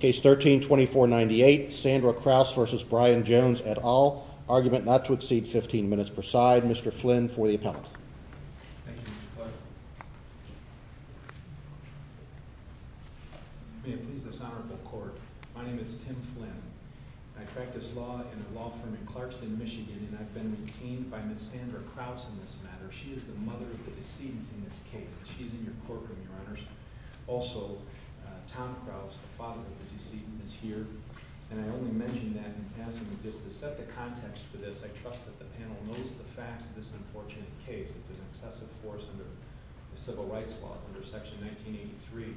Case 13-2498, Sandra Krause v. Brian Jones et al. Argument not to exceed 15 minutes per side. Mr. Flynn for the appellate. May it please the Sonoran Court. My name is Tim Flynn. I practice law in a law firm in Clarkston, Michigan and I've been detained by Ms. Sandra Krause in this matter. She is the mother of the decedent in this case. She's in your courtroom, Your Honors. Also, Tom Krause, the father of the decedent, is here. And I only mention that in passing just to set the context for this. I trust that the panel knows the facts of this unfortunate case. It's an excessive force under the Civil Rights laws, under Section 1983.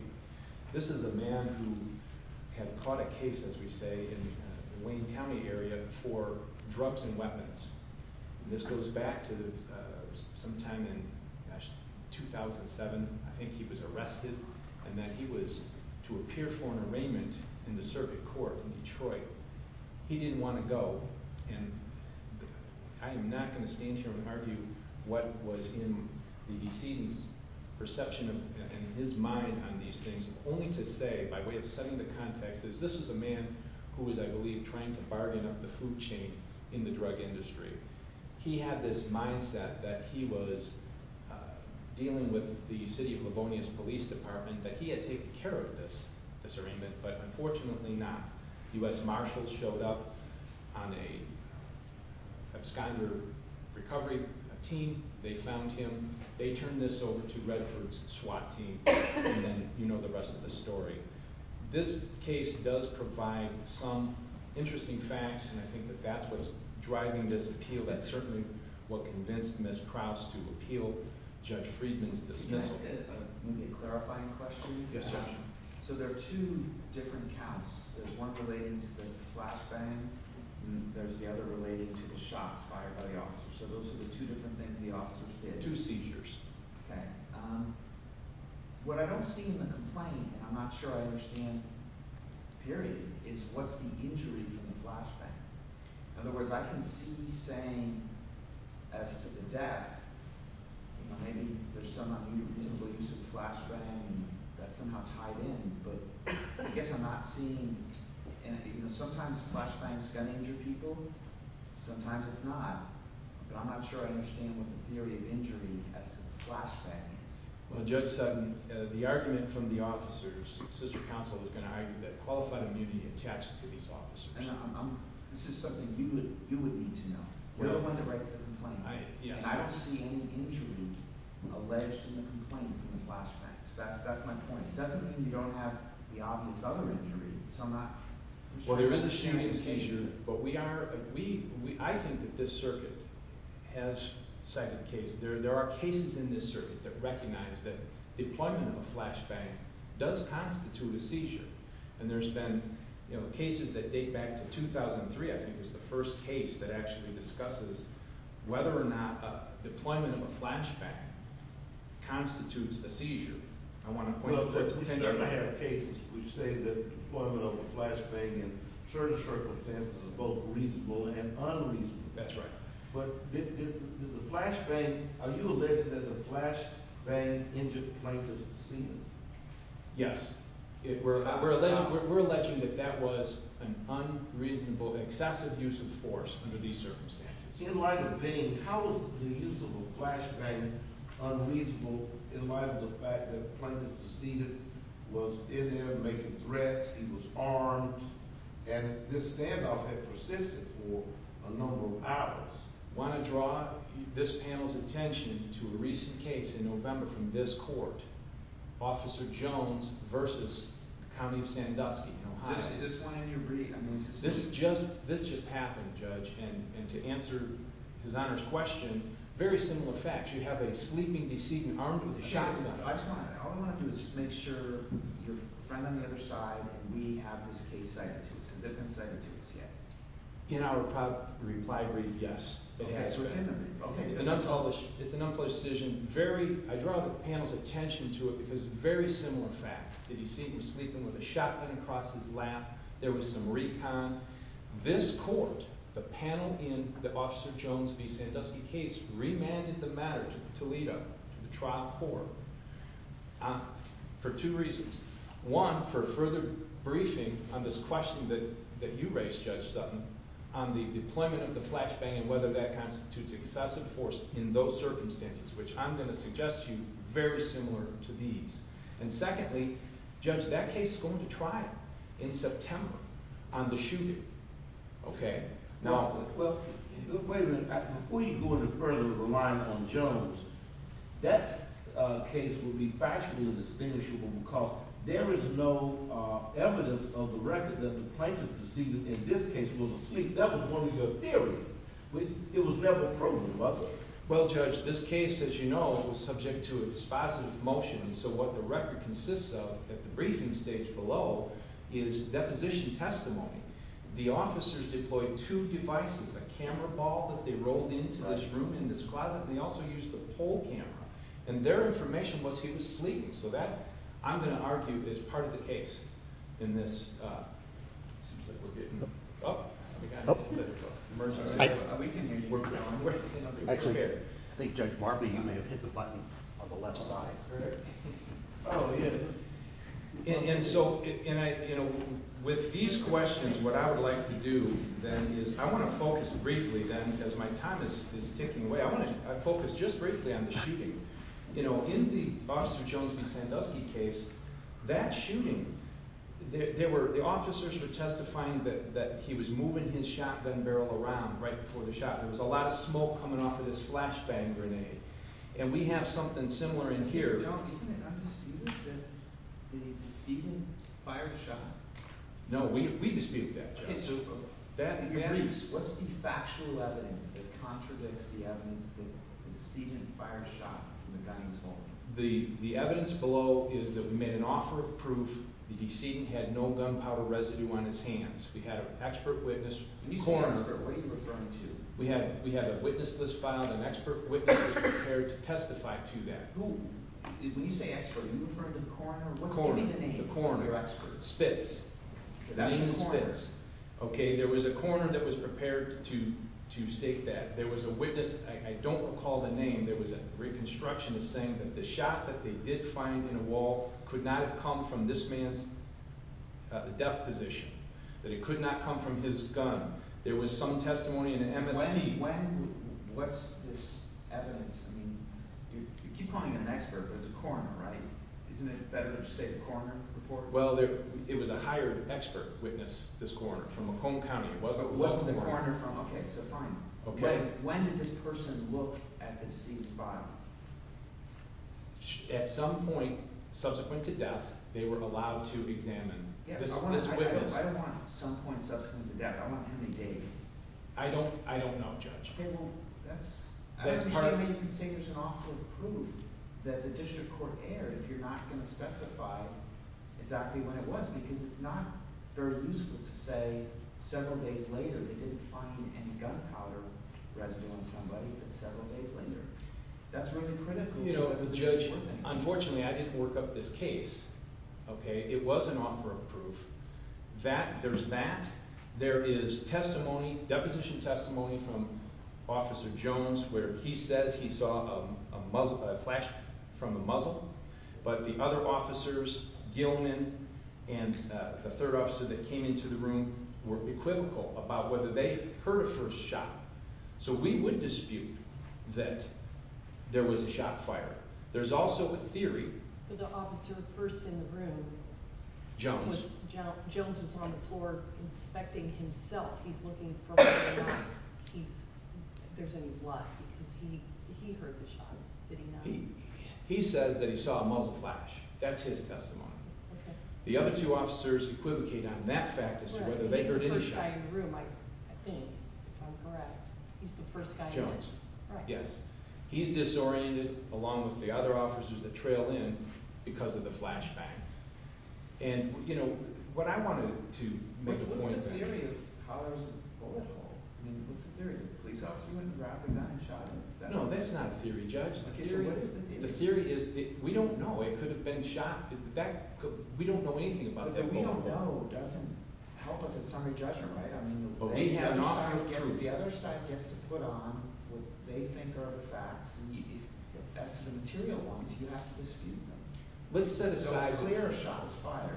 This is a man who had caught a case, as we say, in the Wayne County area for drugs and weapons. This goes back to sometime in 2007, I think he was arrested, and that he was to appear for an arraignment in the circuit court in Detroit. He didn't want to go, and I am not going to stand here and argue what was in the decedent's perception and his mind on these things, only to say, by way of setting the context, this is a man who was, I believe, trying to bargain up the food chain in the drug industry. He had this mindset that he was dealing with the city of Livonia's police department, that he had taken care of this, this arraignment, but unfortunately not. U.S. Marshals showed up on an absconding recovery team, they found him, they turned this over to Redford's SWAT team, and then you know the rest of the story. This case does provide some interesting facts, and I think that that's what's driving this appeal. That's certainly what convinced Ms. Krause to appeal Judge Friedman's dismissal. Can I ask a clarifying question? Yes, Judge. So there are two different counts. There's one relating to the flashbang, and there's the other relating to the shots fired by the officers. So those are the two different things the officers did. Two seizures. What I don't see in the complaint, and I'm not sure I understand, period, is what's the injury from the flashbang. In other words, I can see saying, as to the death, maybe there's some unreasonable use of the flashbang that's somehow tied in, but I guess I'm not seeing… You know, sometimes flashbangs can injure people, sometimes it's not, but I'm not sure I understand what the theory of injury as to the flashbang is. Well, Judge Sutton, the argument from the officers, sister counsel is going to argue that qualified immunity attaches to these officers. This is something you would need to know. You're the one that writes the complaint. And I don't see any injury alleged in the complaint from the flashbangs. That's my point. It doesn't mean you don't have the obvious other injury, so I'm not… Well, there is a shooting seizure, but we are… I think that this circuit has cited a case. There are cases in this circuit that recognize that deployment of a flashbang does constitute a seizure. And there's been cases that date back to 2003, I think, is the first case that actually discusses whether or not deployment of a flashbang constitutes a seizure. I want to point to… I have cases which say that deployment of a flashbang in certain circumstances is both reasonable and unreasonable. That's right. But did the flashbang – are you alleging that the flashbang injured plaintiff's senior? Yes. We're alleging that that was an unreasonable, excessive use of force under these circumstances. In light of Bain, how is the use of a flashbang unreasonable in light of the fact that the plaintiff's senior was in there making threats, he was armed, and this standoff had persisted for a number of hours? I want to draw this panel's attention to a recent case in November from this court, Officer Jones v. County of Sandusky, Ohio. Is this one in your brief? This just happened, Judge, and to answer His Honor's question, very similar facts. You have a sleeping decedent armed with a shotgun. All I want to do is just make sure your friend on the other side and we have this case cited to us. Has it been cited to us yet? In our reply brief, yes. Okay. It's an unpolished decision. I draw the panel's attention to it because very similar facts. Did you see him sleeping with a shotgun across his lap? There was some recon. This court, the panel in the Officer Jones v. Sandusky case, remanded the matter to Toledo, the trial court, for two reasons. One, for further briefing on this question that you raised, Judge Sutton, on the deployment of the flashbang and whether that constitutes excessive force in those circumstances, which I'm going to suggest to you very similar to these. And secondly, Judge, that case is going to trial in September on the shooting. Okay. Well, wait a minute. Before you go any further and rely on Jones, that case would be factually indistinguishable because there is no evidence of the record that the plaintiff's decedent in this case was asleep. That was one of your theories. It was never proven, was it? Well, Judge, this case, as you know, was subject to a dispositive motion, so what the record consists of at the briefing stage below is deposition testimony. The officers deployed two devices, a camera ball that they rolled into this room in this closet, and they also used a pole camera. And their information was he was sleeping, so that, I'm going to argue, is part of the case in this. It seems like we're getting up. We got a little bit of emergency. We can work it out. Actually, I think, Judge Barbee, you may have hit the button on the left side. Oh, yeah. And so, you know, with these questions, what I would like to do then is I want to focus briefly then, because my time is ticking away. I want to focus just briefly on the shooting. You know, in the Officer Jones v. Sandusky case, that shooting, there were – the officers were testifying that he was moving his shotgun barrel around right before the shot. There was a lot of smoke coming off of this flashbang grenade. And we have something similar in here. Don't – isn't it not disputed that the decedent fired the shot? No, we dispute that, Judge. What's the factual evidence that contradicts the evidence that the decedent fired the shot from the gun he was holding? The evidence below is that we made an offer of proof. The decedent had no gunpowder residue on his hands. We had an expert witness. When you say expert, what are you referring to? We had a witness list filed, and an expert witness was prepared to testify to that. When you say expert, are you referring to the coroner? The coroner. What's the name of the coroner? Spitz. That's Spitz. Okay, there was a coroner that was prepared to state that. There was a witness – I don't recall the name. There was a reconstructionist saying that the shot that they did find in a wall could not have come from this man's death position. That it could not come from his gun. There was some testimony in an MSP. When – what's this evidence? I mean, you keep calling it an expert, but it's a coroner, right? Isn't it better to just say the coroner reported it? Well, it was a hired expert witness, this coroner, from Macomb County. It wasn't the coroner from – okay, so fine. When did this person look at the deceased's file? At some point subsequent to death, they were allowed to examine this witness. I don't want some point subsequent to death. I don't know, Judge. Okay, well, that's – you can say there's an offer of proof that the district court erred if you're not going to specify exactly when it was. Because it's not very useful to say several days later they didn't find any gunpowder residue on somebody, but several days later. That's really critical. You know, Judge, unfortunately I didn't work up this case. Okay? It was an offer of proof. There's that. There is testimony, deposition testimony from Officer Jones where he says he saw a flash from a muzzle. But the other officers, Gilman and the third officer that came into the room, were equivocal about whether they heard a first shot. So we would dispute that there was a shot fired. There's also a theory – Now, Jones was on the floor inspecting himself. He's looking for whether or not there's any blood because he heard the shot. Did he not? He says that he saw a muzzle flash. That's his testimony. Okay. The other two officers equivocate on that fact as to whether they heard any shot. He's the first guy in the room, I think, if I'm correct. He's the first guy in the room. Jones. Right. Yes. He's disoriented along with the other officers that trailed in because of the flashback. And, you know, what I wanted to make a point – What's the theory of how there was a bullet hole? I mean, what's the theory? The police officer went and grabbed a gun and shot him? No, that's not a theory, Judge. Okay, so what is the theory? The theory is that we don't know. It could have been shot. We don't know anything about that bullet hole. But what we don't know doesn't help us at summary judgment, right? I mean, the other side gets to put on what they think are the facts. That's because the material ones, you have to dispute them. Let's set aside – So it's clear a shot was fired.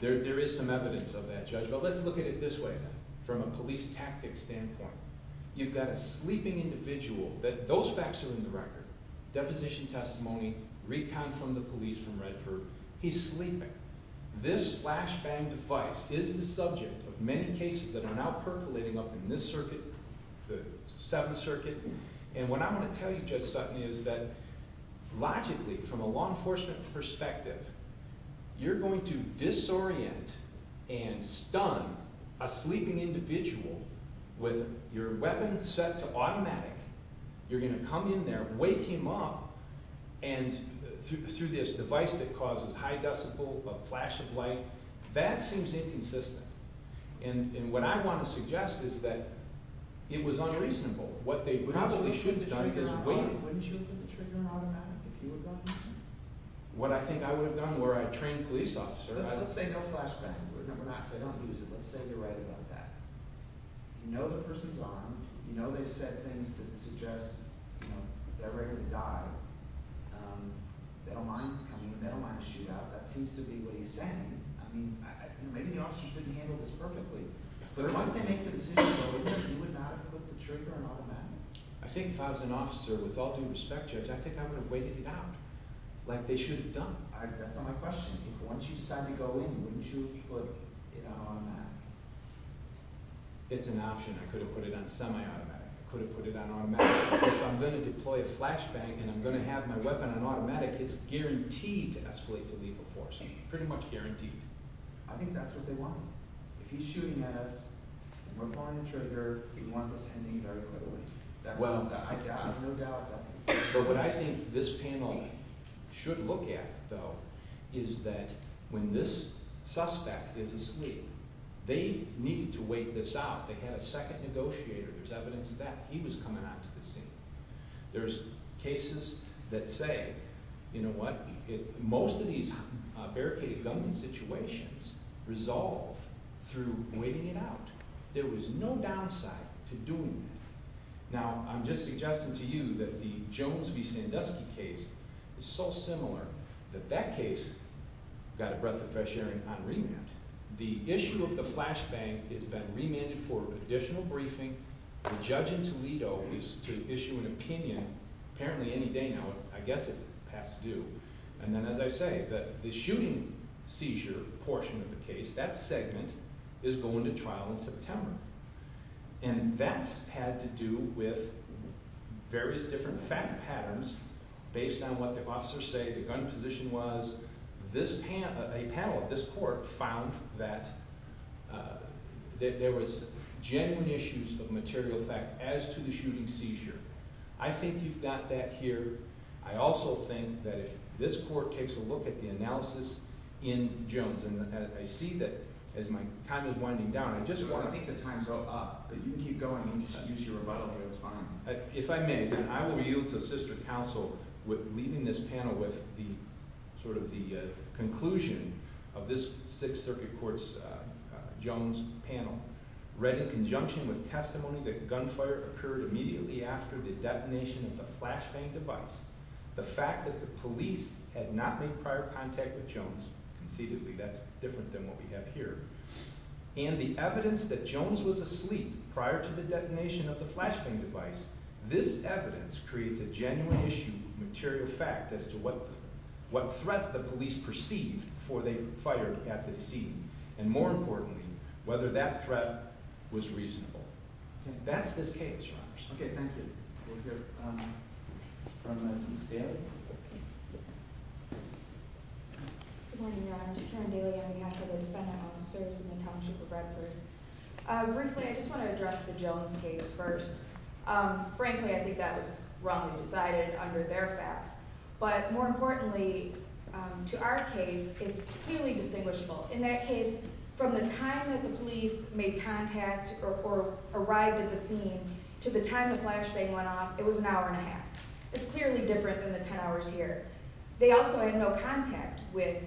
There is some evidence of that, Judge. But let's look at it this way from a police tactic standpoint. You've got a sleeping individual. Those facts are in the record. Deposition testimony, recount from the police from Redford. He's sleeping. This flashbang device is the subject of many cases that are now percolating up in this circuit, the Seventh Circuit. And what I want to tell you, Judge Sutton, is that logically, from a law enforcement perspective, you're going to disorient and stun a sleeping individual with your weapon set to automatic. You're going to come in there, wake him up, and through this device that causes high decibel, a flash of light. That seems inconsistent. And what I want to suggest is that it was unreasonable. Probably shouldn't have done it this way. Wouldn't you have put the trigger on automatic if you were going to? What I think I would have done were I trained a police officer. Let's say no flashbang. They don't use it. Let's say they're right about that. You know the person's armed. You know they've said things that suggest they're ready to die. They don't mind a shootout. That seems to be what he's saying. Maybe the officers couldn't handle this perfectly. But once they make the decision, you would not have put the trigger on automatic. I think if I was an officer, with all due respect, Judge, I think I would have waited it out like they should have done. That's not my question. Once you decide to go in, wouldn't you have put it on automatic? It's an option. I could have put it on semi-automatic. I could have put it on automatic. If I'm going to deploy a flashbang and I'm going to have my weapon on automatic, it's guaranteed to escalate to lethal force. Pretty much guaranteed. I think that's what they want. If he's shooting at us and we're pulling the trigger, we want this ending very quickly. I have no doubt that's what they want. But what I think this panel should look at, though, is that when this suspect is asleep, they need to wait this out. They had a second negotiator. There's evidence of that. He was coming onto the scene. There's cases that say, you know what, most of these barricaded gunman situations resolve through waiting it out. There was no downside to doing that. Now, I'm just suggesting to you that the Jones v. Sandusky case is so similar that that case got a breath of fresh air on remand. The issue of the flashbang has been remanded for additional briefing. The judge in Toledo is to issue an opinion apparently any day now. I guess it's past due. And then as I say, the shooting seizure portion of the case, that segment is going to trial in September. And that's had to do with various different fact patterns based on what the officers say the gun position was. A panel at this court found that there was genuine issues of material fact as to the shooting seizure. I think you've got that here. I also think that if this court takes a look at the analysis in Jones, and I see that as my time is winding down, I just want to think the time's up. But you can keep going and just use your rebuttal here. It's fine. If I may, I will yield to a sister counsel with leaving this panel with sort of the conclusion of this Sixth Circuit Court's Jones panel. Read in conjunction with testimony that gunfire occurred immediately after the detonation of the flashbang device. The fact that the police had not made prior contact with Jones. Conceitedly, that's different than what we have here. And the evidence that Jones was asleep prior to the detonation of the flashbang device, this evidence creates a genuine issue of material fact as to what threat the police perceived before they fired at the scene. And more importantly, whether that threat was reasonable. That's this case, Your Honors. Okay, thank you. We'll hear from Ms. Staley. Good morning, Your Honors. Karen Bailey on behalf of the Defendant Office of Service and the Township of Bradford. Briefly, I just want to address the Jones case first. Frankly, I think that was wrongly decided under their facts. But more importantly, to our case, it's clearly distinguishable. In that case, from the time that the police made contact or arrived at the scene to the time the flashbang went off, it was an hour and a half. It's clearly different than the 10 hours here. They also had no contact with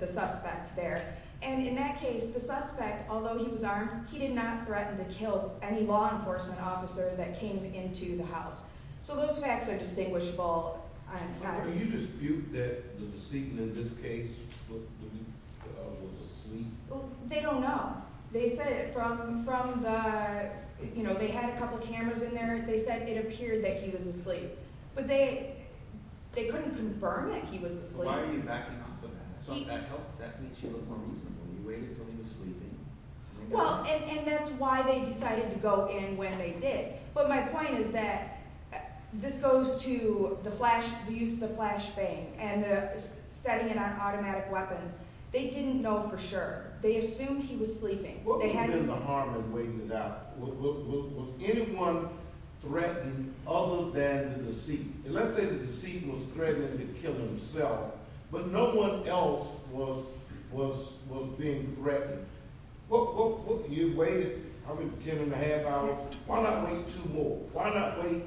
the suspect there. And in that case, the suspect, although he was armed, he did not threaten to kill any law enforcement officer that came into the house. So those facts are distinguishable. Do you dispute that the decedent in this case was asleep? They don't know. They said it from the – they had a couple cameras in there. They said it appeared that he was asleep. But they couldn't confirm that he was asleep. So why are you backing off of that? Doesn't that help? That makes you look more reasonable. You waited until he was sleeping. Well, and that's why they decided to go in when they did. But my point is that this goes to the use of the flashbang and the setting it on automatic weapons. They didn't know for sure. They assumed he was sleeping. What would have been the harm in waiting it out? Was anyone threatened other than the deceit? And let's say the deceit was threatening to kill himself, but no one else was being threatened. You waited, I mean, 10 and a half hours. Why not wait two more? Why not wait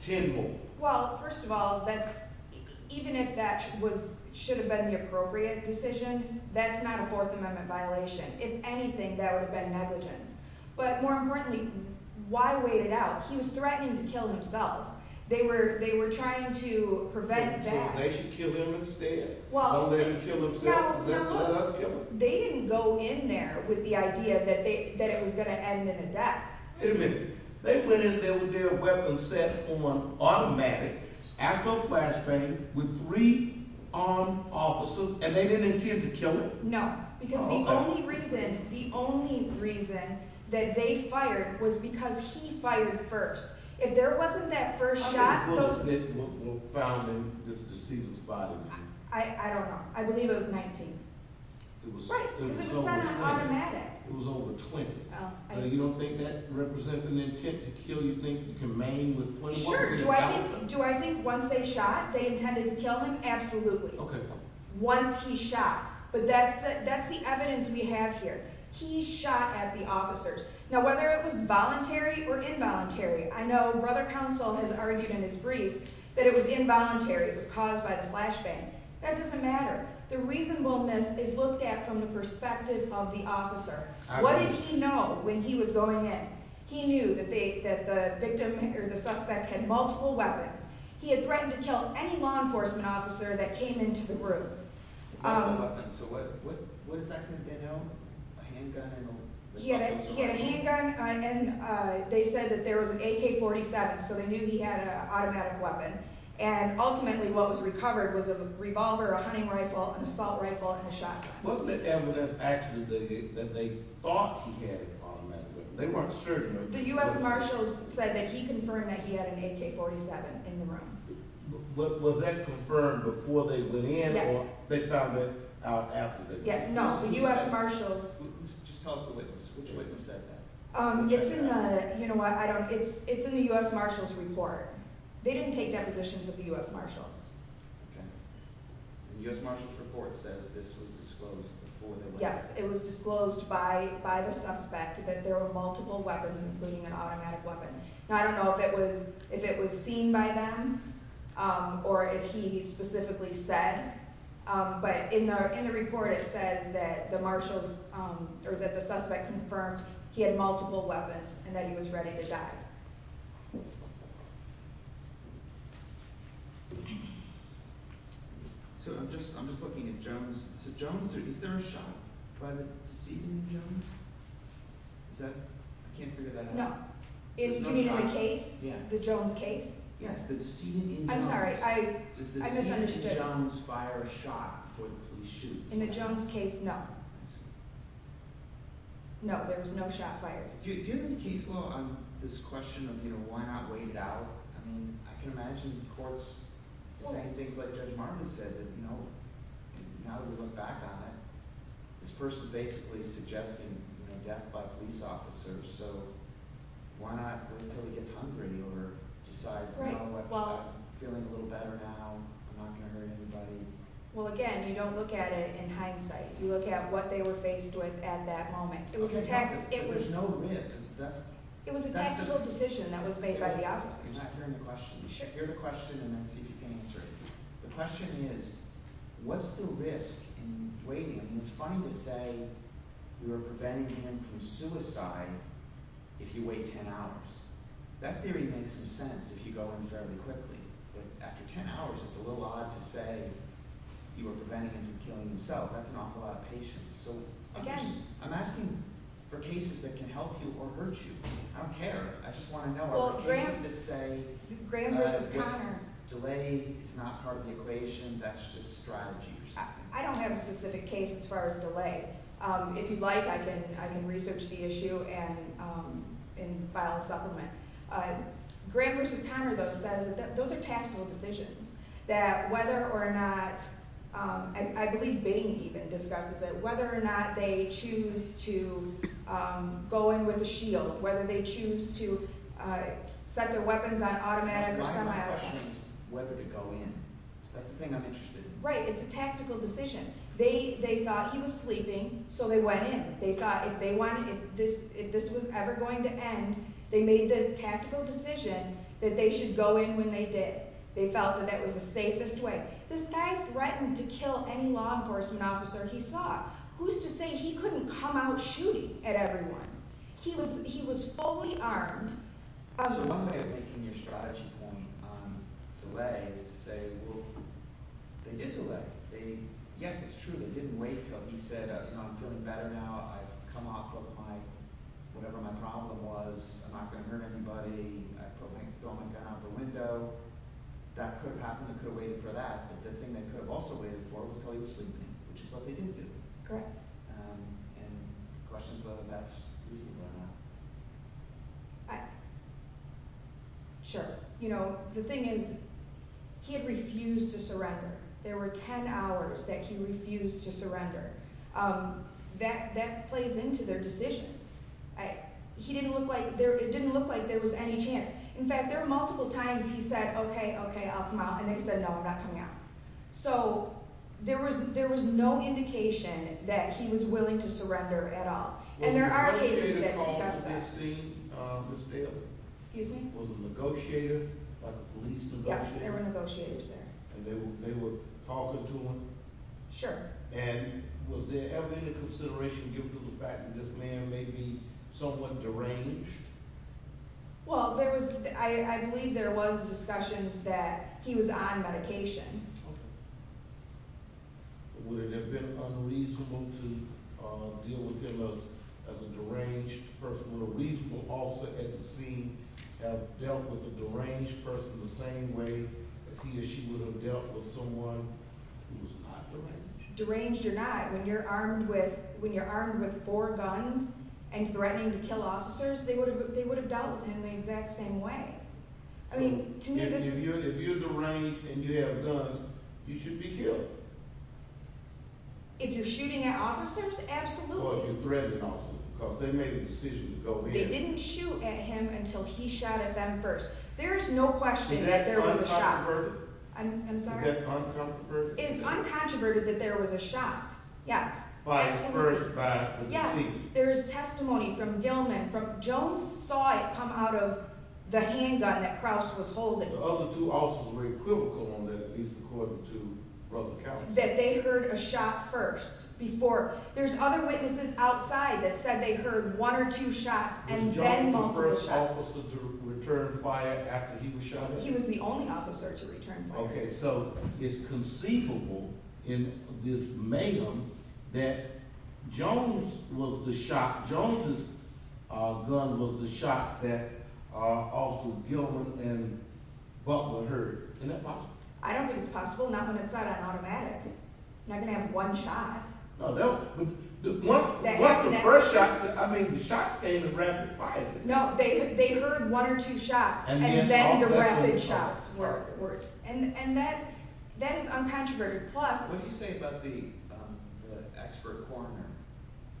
10 more? Well, first of all, that's – even if that was – should have been the appropriate decision, that's not a Fourth Amendment violation. If anything, that would have been negligence. But more importantly, why wait it out? He was threatening to kill himself. They were trying to prevent that. So they should kill him instead? Well – No, no. Let us kill him. They didn't go in there with the idea that it was going to end in a death. Wait a minute. They went in there with their weapons set on automatic, after a flashbang, with three armed officers, and they didn't intend to kill him? No, because the only reason – the only reason that they fired was because he fired first. If there wasn't that first shot, those – How many bullets were found in this deceased's body? I don't know. I believe it was 19. Right, because it was set on automatic. It was over 20. So you don't think that represents an intent to kill? You think you can main with .1? Sure. Do I think once they shot, they intended to kill him? Absolutely. Okay. Once he shot. But that's the evidence we have here. He shot at the officers. Now, whether it was voluntary or involuntary, I know Brother Counsel has argued in his briefs that it was involuntary. It was caused by the flashbang. That doesn't matter. The reasonableness is looked at from the perspective of the officer. What did he know when he was going in? He knew that the victim or the suspect had multiple weapons. He had threatened to kill any law enforcement officer that came into the room. Multiple weapons. So what does that mean? A handgun? He had a handgun. They said that there was an AK-47, so they knew he had an automatic weapon. And ultimately what was recovered was a revolver, a hunting rifle, an assault rifle, and a shotgun. Wasn't there evidence actually that they thought he had an automatic weapon? They weren't certain. The U.S. Marshals said that he confirmed that he had an AK-47 in the room. Was that confirmed before they went in or they found it out after they went in? No, the U.S. Marshals. Just tell us the witness. Which witness said that? It's in the U.S. Marshals report. They didn't take depositions of the U.S. Marshals. Okay. The U.S. Marshals report says this was disclosed before they went in. Yes, it was disclosed by the suspect that there were multiple weapons, including an automatic weapon. Now, I don't know if it was seen by them or if he specifically said, but in the report it says that the Marshals or that the suspect confirmed he had multiple weapons and that he was ready to die. So I'm just looking at Jones. Is there a shot by the decedent in Jones? I can't figure that out. No. You mean in the case? Yeah. The Jones case? Yes, the decedent in Jones. I'm sorry. I just understood. Does the decedent in Jones fire a shot before the police shoot? In the Jones case, no. I see. No, there was no shot fired. Do you have any case law on this question of why not wait it out? I mean, I can imagine courts saying things like Judge Martin said that, you know, now that we look back on it, this person is basically suggesting death by police officer, so why not wait until he gets hungry or decides, you know, I'm feeling a little better now, I'm not going to hurt anybody. Well, again, you don't look at it in hindsight. You look at what they were faced with at that moment. There's no rib. It was a tactical decision that was made by the officers. I'm not hearing the question. You should hear the question and then see if you can answer it. The question is, what's the risk in waiting? I mean, it's funny to say you are preventing him from suicide if you wait ten hours. That theory makes some sense if you go in fairly quickly, but after ten hours, it's a little odd to say you are preventing him from killing himself. That's an awful lot of patience. I'm asking for cases that can help you or hurt you. I don't care. I just want to know are there cases that say delay is not part of the evasion, that's just strategy. I don't have a specific case as far as delay. If you'd like, I can research the issue and file a supplement. Graham v. Conner, though, says that those are tactical decisions, that whether or not, I believe Bing even discusses it, whether or not they choose to go in with a shield, whether they choose to set their weapons on automatic or semi-automatic. My question is whether to go in. That's the thing I'm interested in. Right. It's a tactical decision. They thought he was sleeping, so they went in. They thought if this was ever going to end, they made the tactical decision that they should go in when they did. They felt that that was the safest way. This guy threatened to kill any law enforcement officer he saw. Who's to say he couldn't come out shooting at everyone? He was fully armed. So one way of making your strategy point on delay is to say, well, they did delay. Yes, it's true. They didn't wait until he said, you know, I'm feeling better now. I've come off of whatever my problem was. I put my gun out the window. That could have happened. They could have waited for that. But the thing they could have also waited for was until he was sleeping, which is what they didn't do. Correct. And the question is whether that's reasonable or not. Sure. You know, the thing is he had refused to surrender. There were ten hours that he refused to surrender. That plays into their decision. It didn't look like there was any chance. In fact, there were multiple times he said, okay, okay, I'll come out. And then he said, no, I'm not coming out. So there was no indication that he was willing to surrender at all. And there are cases that discuss that. Excuse me? Was a negotiator, like a police negotiator? Yes, there were negotiators there. And they were talking to him? Sure. And was there ever any consideration given to the fact that this man may be somewhat deranged? Well, I believe there was discussions that he was on medication. Okay. Would it have been unreasonable to deal with him as a deranged person? Would a reasonable officer at the scene have dealt with a deranged person the same way as he or she would have dealt with someone who was not deranged? Deranged or not, when you're armed with four guns and threatening to kill officers, they would have dealt with him the exact same way. I mean, to me, this is— If you're deranged and you have guns, you should be killed. If you're shooting at officers, absolutely. Or you're threatening officers because they made a decision to go in. They didn't shoot at him until he shot at them first. There is no question that there was a shot. Is that uncomproverted? I'm sorry? Is that uncomproverted? It is uncomproverted that there was a shot. Yes. By the first— Yes. There is testimony from Gilman. Jones saw it come out of the handgun that Krause was holding. The other two officers were equivocal on that, at least according to Brother Cowan. That they heard a shot first before— There's other witnesses outside that said they heard one or two shots and then multiple shots. Was Jones the first officer to return fire after he was shot at? He was the only officer to return fire. Okay, so it's conceivable in this mayhem that Jones' gun was the shot that Officer Gilman and Butler heard. Isn't that possible? I don't think it's possible. Not when it's not an automatic. You're not going to have one shot. No, that would— That would never happen. What's the first shot? I mean, the shot came to rapid fire. No, they heard one or two shots, and then the rapid shots were— And that is uncontroverted. What do you say about the expert coroner?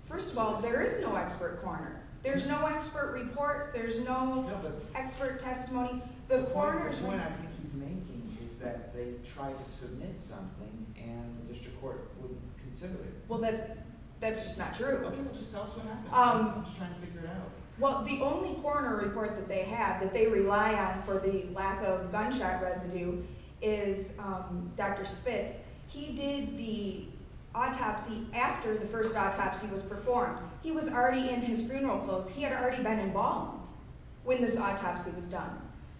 First of all, there is no expert coroner. There's no expert report. There's no expert testimony. The point I think he's making is that they tried to submit something, and the district court wouldn't consider it. Well, that's just not true. Okay, well, just tell us what happened. I'm just trying to figure it out. Well, the only coroner report that they have that they rely on for the lack of gunshot residue is Dr. Spitz. He did the autopsy after the first autopsy was performed. He was already in his funeral clothes. He had already been embalmed when this autopsy was done.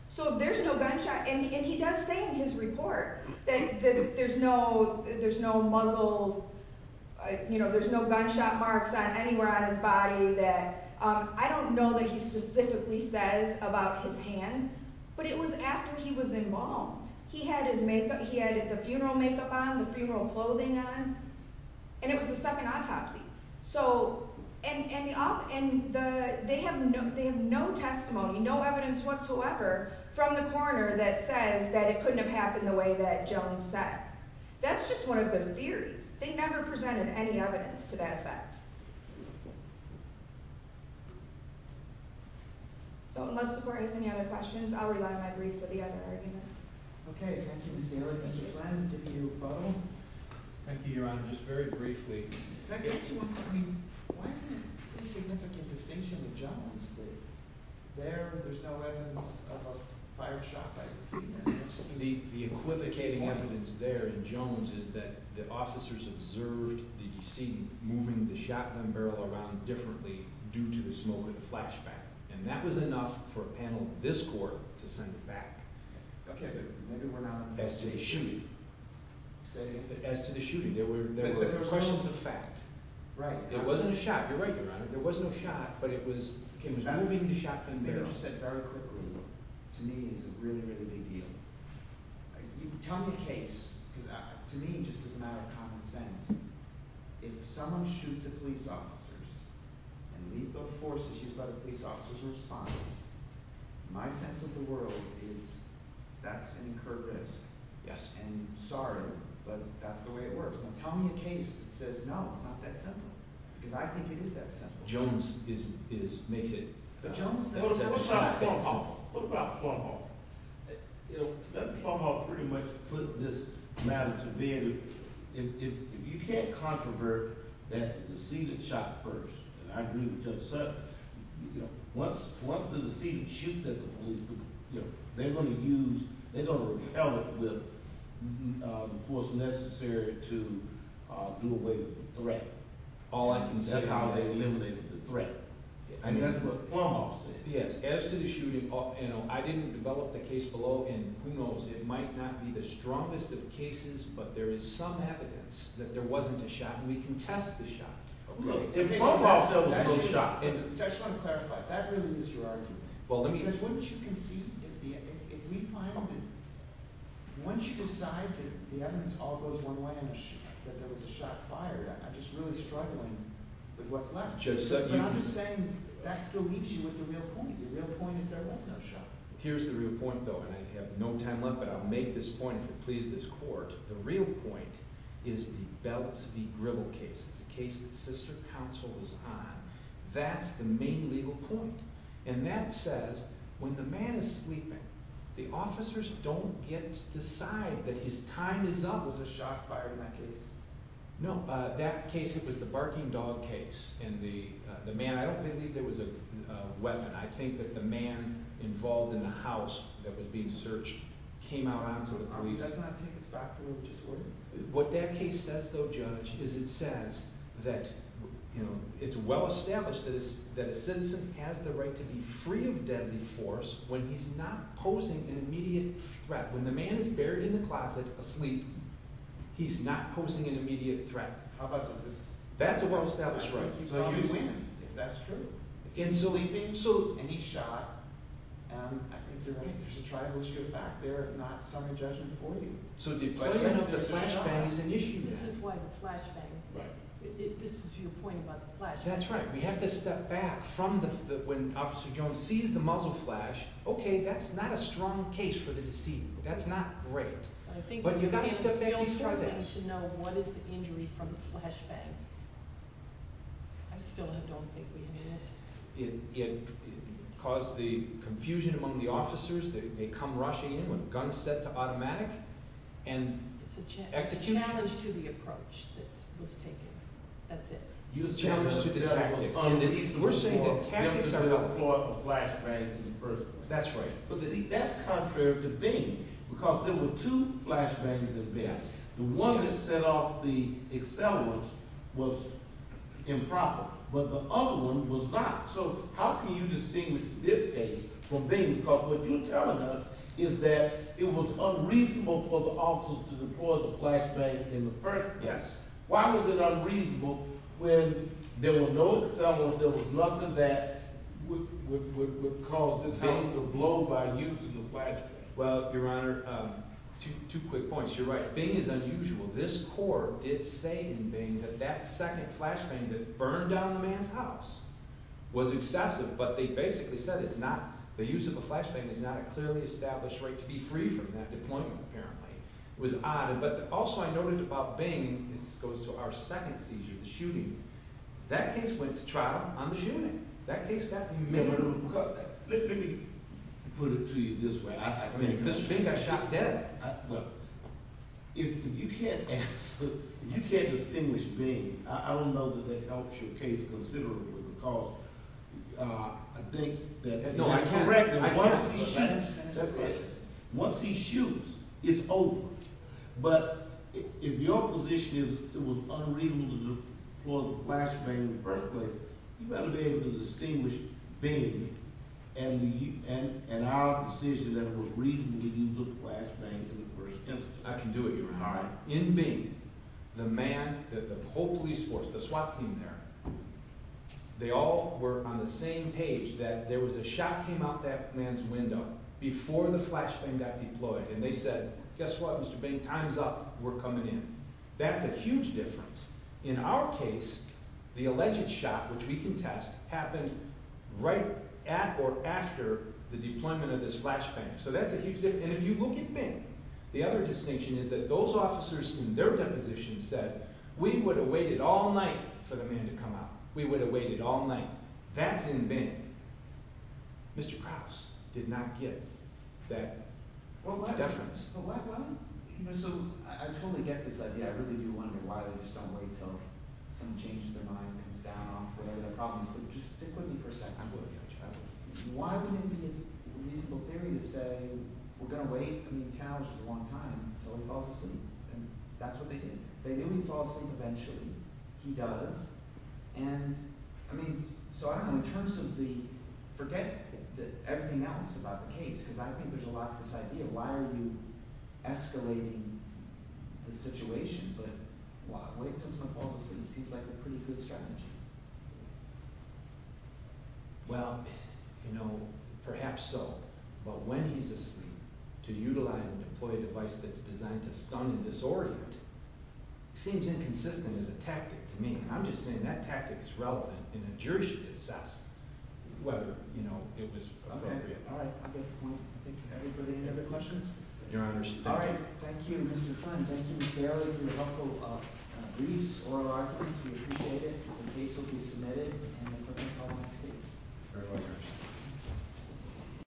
So if there's no gunshot—and he does say in his report that there's no muzzle, you know, there's no gunshot marks anywhere on his body. I don't know that he specifically says about his hands, but it was after he was embalmed. He had the funeral makeup on, the funeral clothing on, and it was the second autopsy. And they have no testimony, no evidence whatsoever from the coroner that says that it couldn't have happened the way that Jones said. That's just one of the theories. They never presented any evidence to that effect. So unless the court has any other questions, I'll rely on my brief for the other arguments. Okay, thank you, Ms. Taylor. Mr. Flynn, did you vote? Thank you, Your Honor. Just very briefly— If I could ask you one thing, why is there a significant distinction with Jones? There, there's no evidence of a fired shot by the decedent. The equivocating evidence there in Jones is that the officers observed the decedent moving the shotgun barrel around differently due to the smoke and the flashback. And that was enough for a panel in this court to send it back. Okay, but maybe we're not— As to the shooting. As to the shooting. There were questions of fact. Right. It wasn't a shot. You're right, Your Honor. There was no shot, but it was moving the shotgun barrel. Okay, just very quickly, to me it's a really, really big deal. Tell me a case, because to me it just doesn't add up to common sense. If someone shoots a police officer and lethal force is used by the police officer's response, my sense of the world is that's incurred risk. Yes. And, sorry, but that's the way it works. Now, tell me a case that says, no, it's not that simple, because I think it is that simple. Jones is—makes it— But Jones— What about Plonhoff? What about Plonhoff? You know, Plonhoff pretty much put this matter to bed. If you can't controvert that the decedent shot first, and I agree with Judge Sutton, once the decedent shoots at the police, they're going to use— —the force necessary to do away with the threat. All I can say— That's how they eliminated the threat. And that's what Plonhoff says. Yes, as to the shooting, you know, I didn't develop the case below, and who knows, it might not be the strongest of cases, but there is some evidence that there wasn't a shot, and we can test the shot. Okay. If Plonhoff doesn't have a shot. I just want to clarify, that really is your argument. Because once you can see—if we find it, once you decide that the evidence all goes one way and that there was a shot fired, I'm just really struggling with what's left. Judge Sutton— But I'm just saying that still leaves you with the real point. The real point is there was no shot. Here's the real point, though, and I have no time left, but I'll make this point if it pleases this court. The real point is the Belitz v. Gribble case. It's a case that sister counsel was on. That's the main legal point, and that says when the man is sleeping, the officers don't get to decide that his time is up. Was a shot fired in that case? No. That case, it was the barking dog case, and the man—I don't believe there was a weapon. I think that the man involved in the house that was being searched came out onto the police. I don't think it's factually disordered. What that case says, though, Judge, is it says that it's well-established that a citizen has the right to be free of deadly force when he's not posing an immediate threat. When the man is buried in the closet asleep, he's not posing an immediate threat. How about this? That's a well-established right. I don't think he probably went, if that's true. In sleeping? In sleeping. And he shot, and I think there's a tribalistic effect there, if not summary judgment for you. So the deployment of the flashbang is an issue there. This is why the flashbang—this is your point about the flashbang. That's right. We have to step back from the—when Officer Jones sees the muzzle flash, okay, that's not a strong case for the deceit. That's not great. But I think— But you've got to step back and try that. But I think it's still struggling to know what is the injury from the flashbang. I still don't think we have an answer. It caused the confusion among the officers. They come rushing in with guns set to automatic, and execution— It's a challenge to the approach that was taken. That's it. A challenge to the tactics. We're saying that tactics are not— They didn't deploy a flashbang in the first place. That's right. But that's contrary to being, because there were two flashbangs at best. The one that set off the accelerants was improper. But the other one was not. So how can you distinguish this case from Bing? Because what you're telling us is that it was unreasonable for the officers to deploy the flashbang in the first place. Yes. Why was it unreasonable when there were no accelerants, there was nothing that would cause this case to blow by using the flashbang? Well, Your Honor, two quick points. You're right. Bing is unusual. This court did say in Bing that that second flashbang that burned down the man's house was excessive. But they basically said it's not—the use of a flashbang is not a clearly established right to be free from that deployment, apparently. It was odd. But also I noted about Bing—this goes to our second seizure, the shooting—that case went to trial on the shooting. That case got— Let me put it to you this way. Bing got shot dead. If you can't ask—if you can't distinguish Bing, I don't know that that helps your case considerably because I think that it's correct that once he shoots, that's it. Once he shoots, it's over. But if your position is it was unreasonable to deploy the flashbang in the first place, you better be able to distinguish Bing and our decision that it was reasonable to use a flashbang in the first instance. I can do it, Your Honor. All right. In Bing, the man, the whole police force, the SWAT team there, they all were on the same page that there was a shot came out that man's window before the flashbang got deployed. And they said, guess what, Mr. Bing, time's up. We're coming in. That's a huge difference. In our case, the alleged shot, which we contest, happened right at or after the deployment of this flashbang. So that's a huge difference. And if you look at Bing, the other distinction is that those officers in their deposition said, we would have waited all night for the man to come out. We would have waited all night. That's in Bing. Mr. Krause did not give that deference. So I totally get this idea. I really do wonder why they just don't wait until someone changes their mind and comes down off whatever the problem is. But just stick with me for a second. I'm going to touch on it. Why would it be a reasonable theory to say we're going to wait? I mean, Tal, this is a long time until he falls asleep. And that's what they did. They knew he'd fall asleep eventually. He does. And, I mean, so I don't know. In terms of the – forget everything else about the case because I think there's a lot to this idea. Why are you escalating the situation? But why wait until someone falls asleep seems like a pretty good strategy. Well, you know, perhaps so. But when he's asleep, to utilize and deploy a device that's designed to stun and disorient seems inconsistent as a tactic to me. And I'm just saying that tactic is relevant and a jury should assess whether, you know, it was appropriate. Okay. All right. I get the point. I think everybody have any other questions? Your Honor. All right. Thank you, Mr. Kline. Thank you, Mr. Ailey for your helpful briefs, oral arguments. We appreciate it. The case will be submitted and the court will call the next case.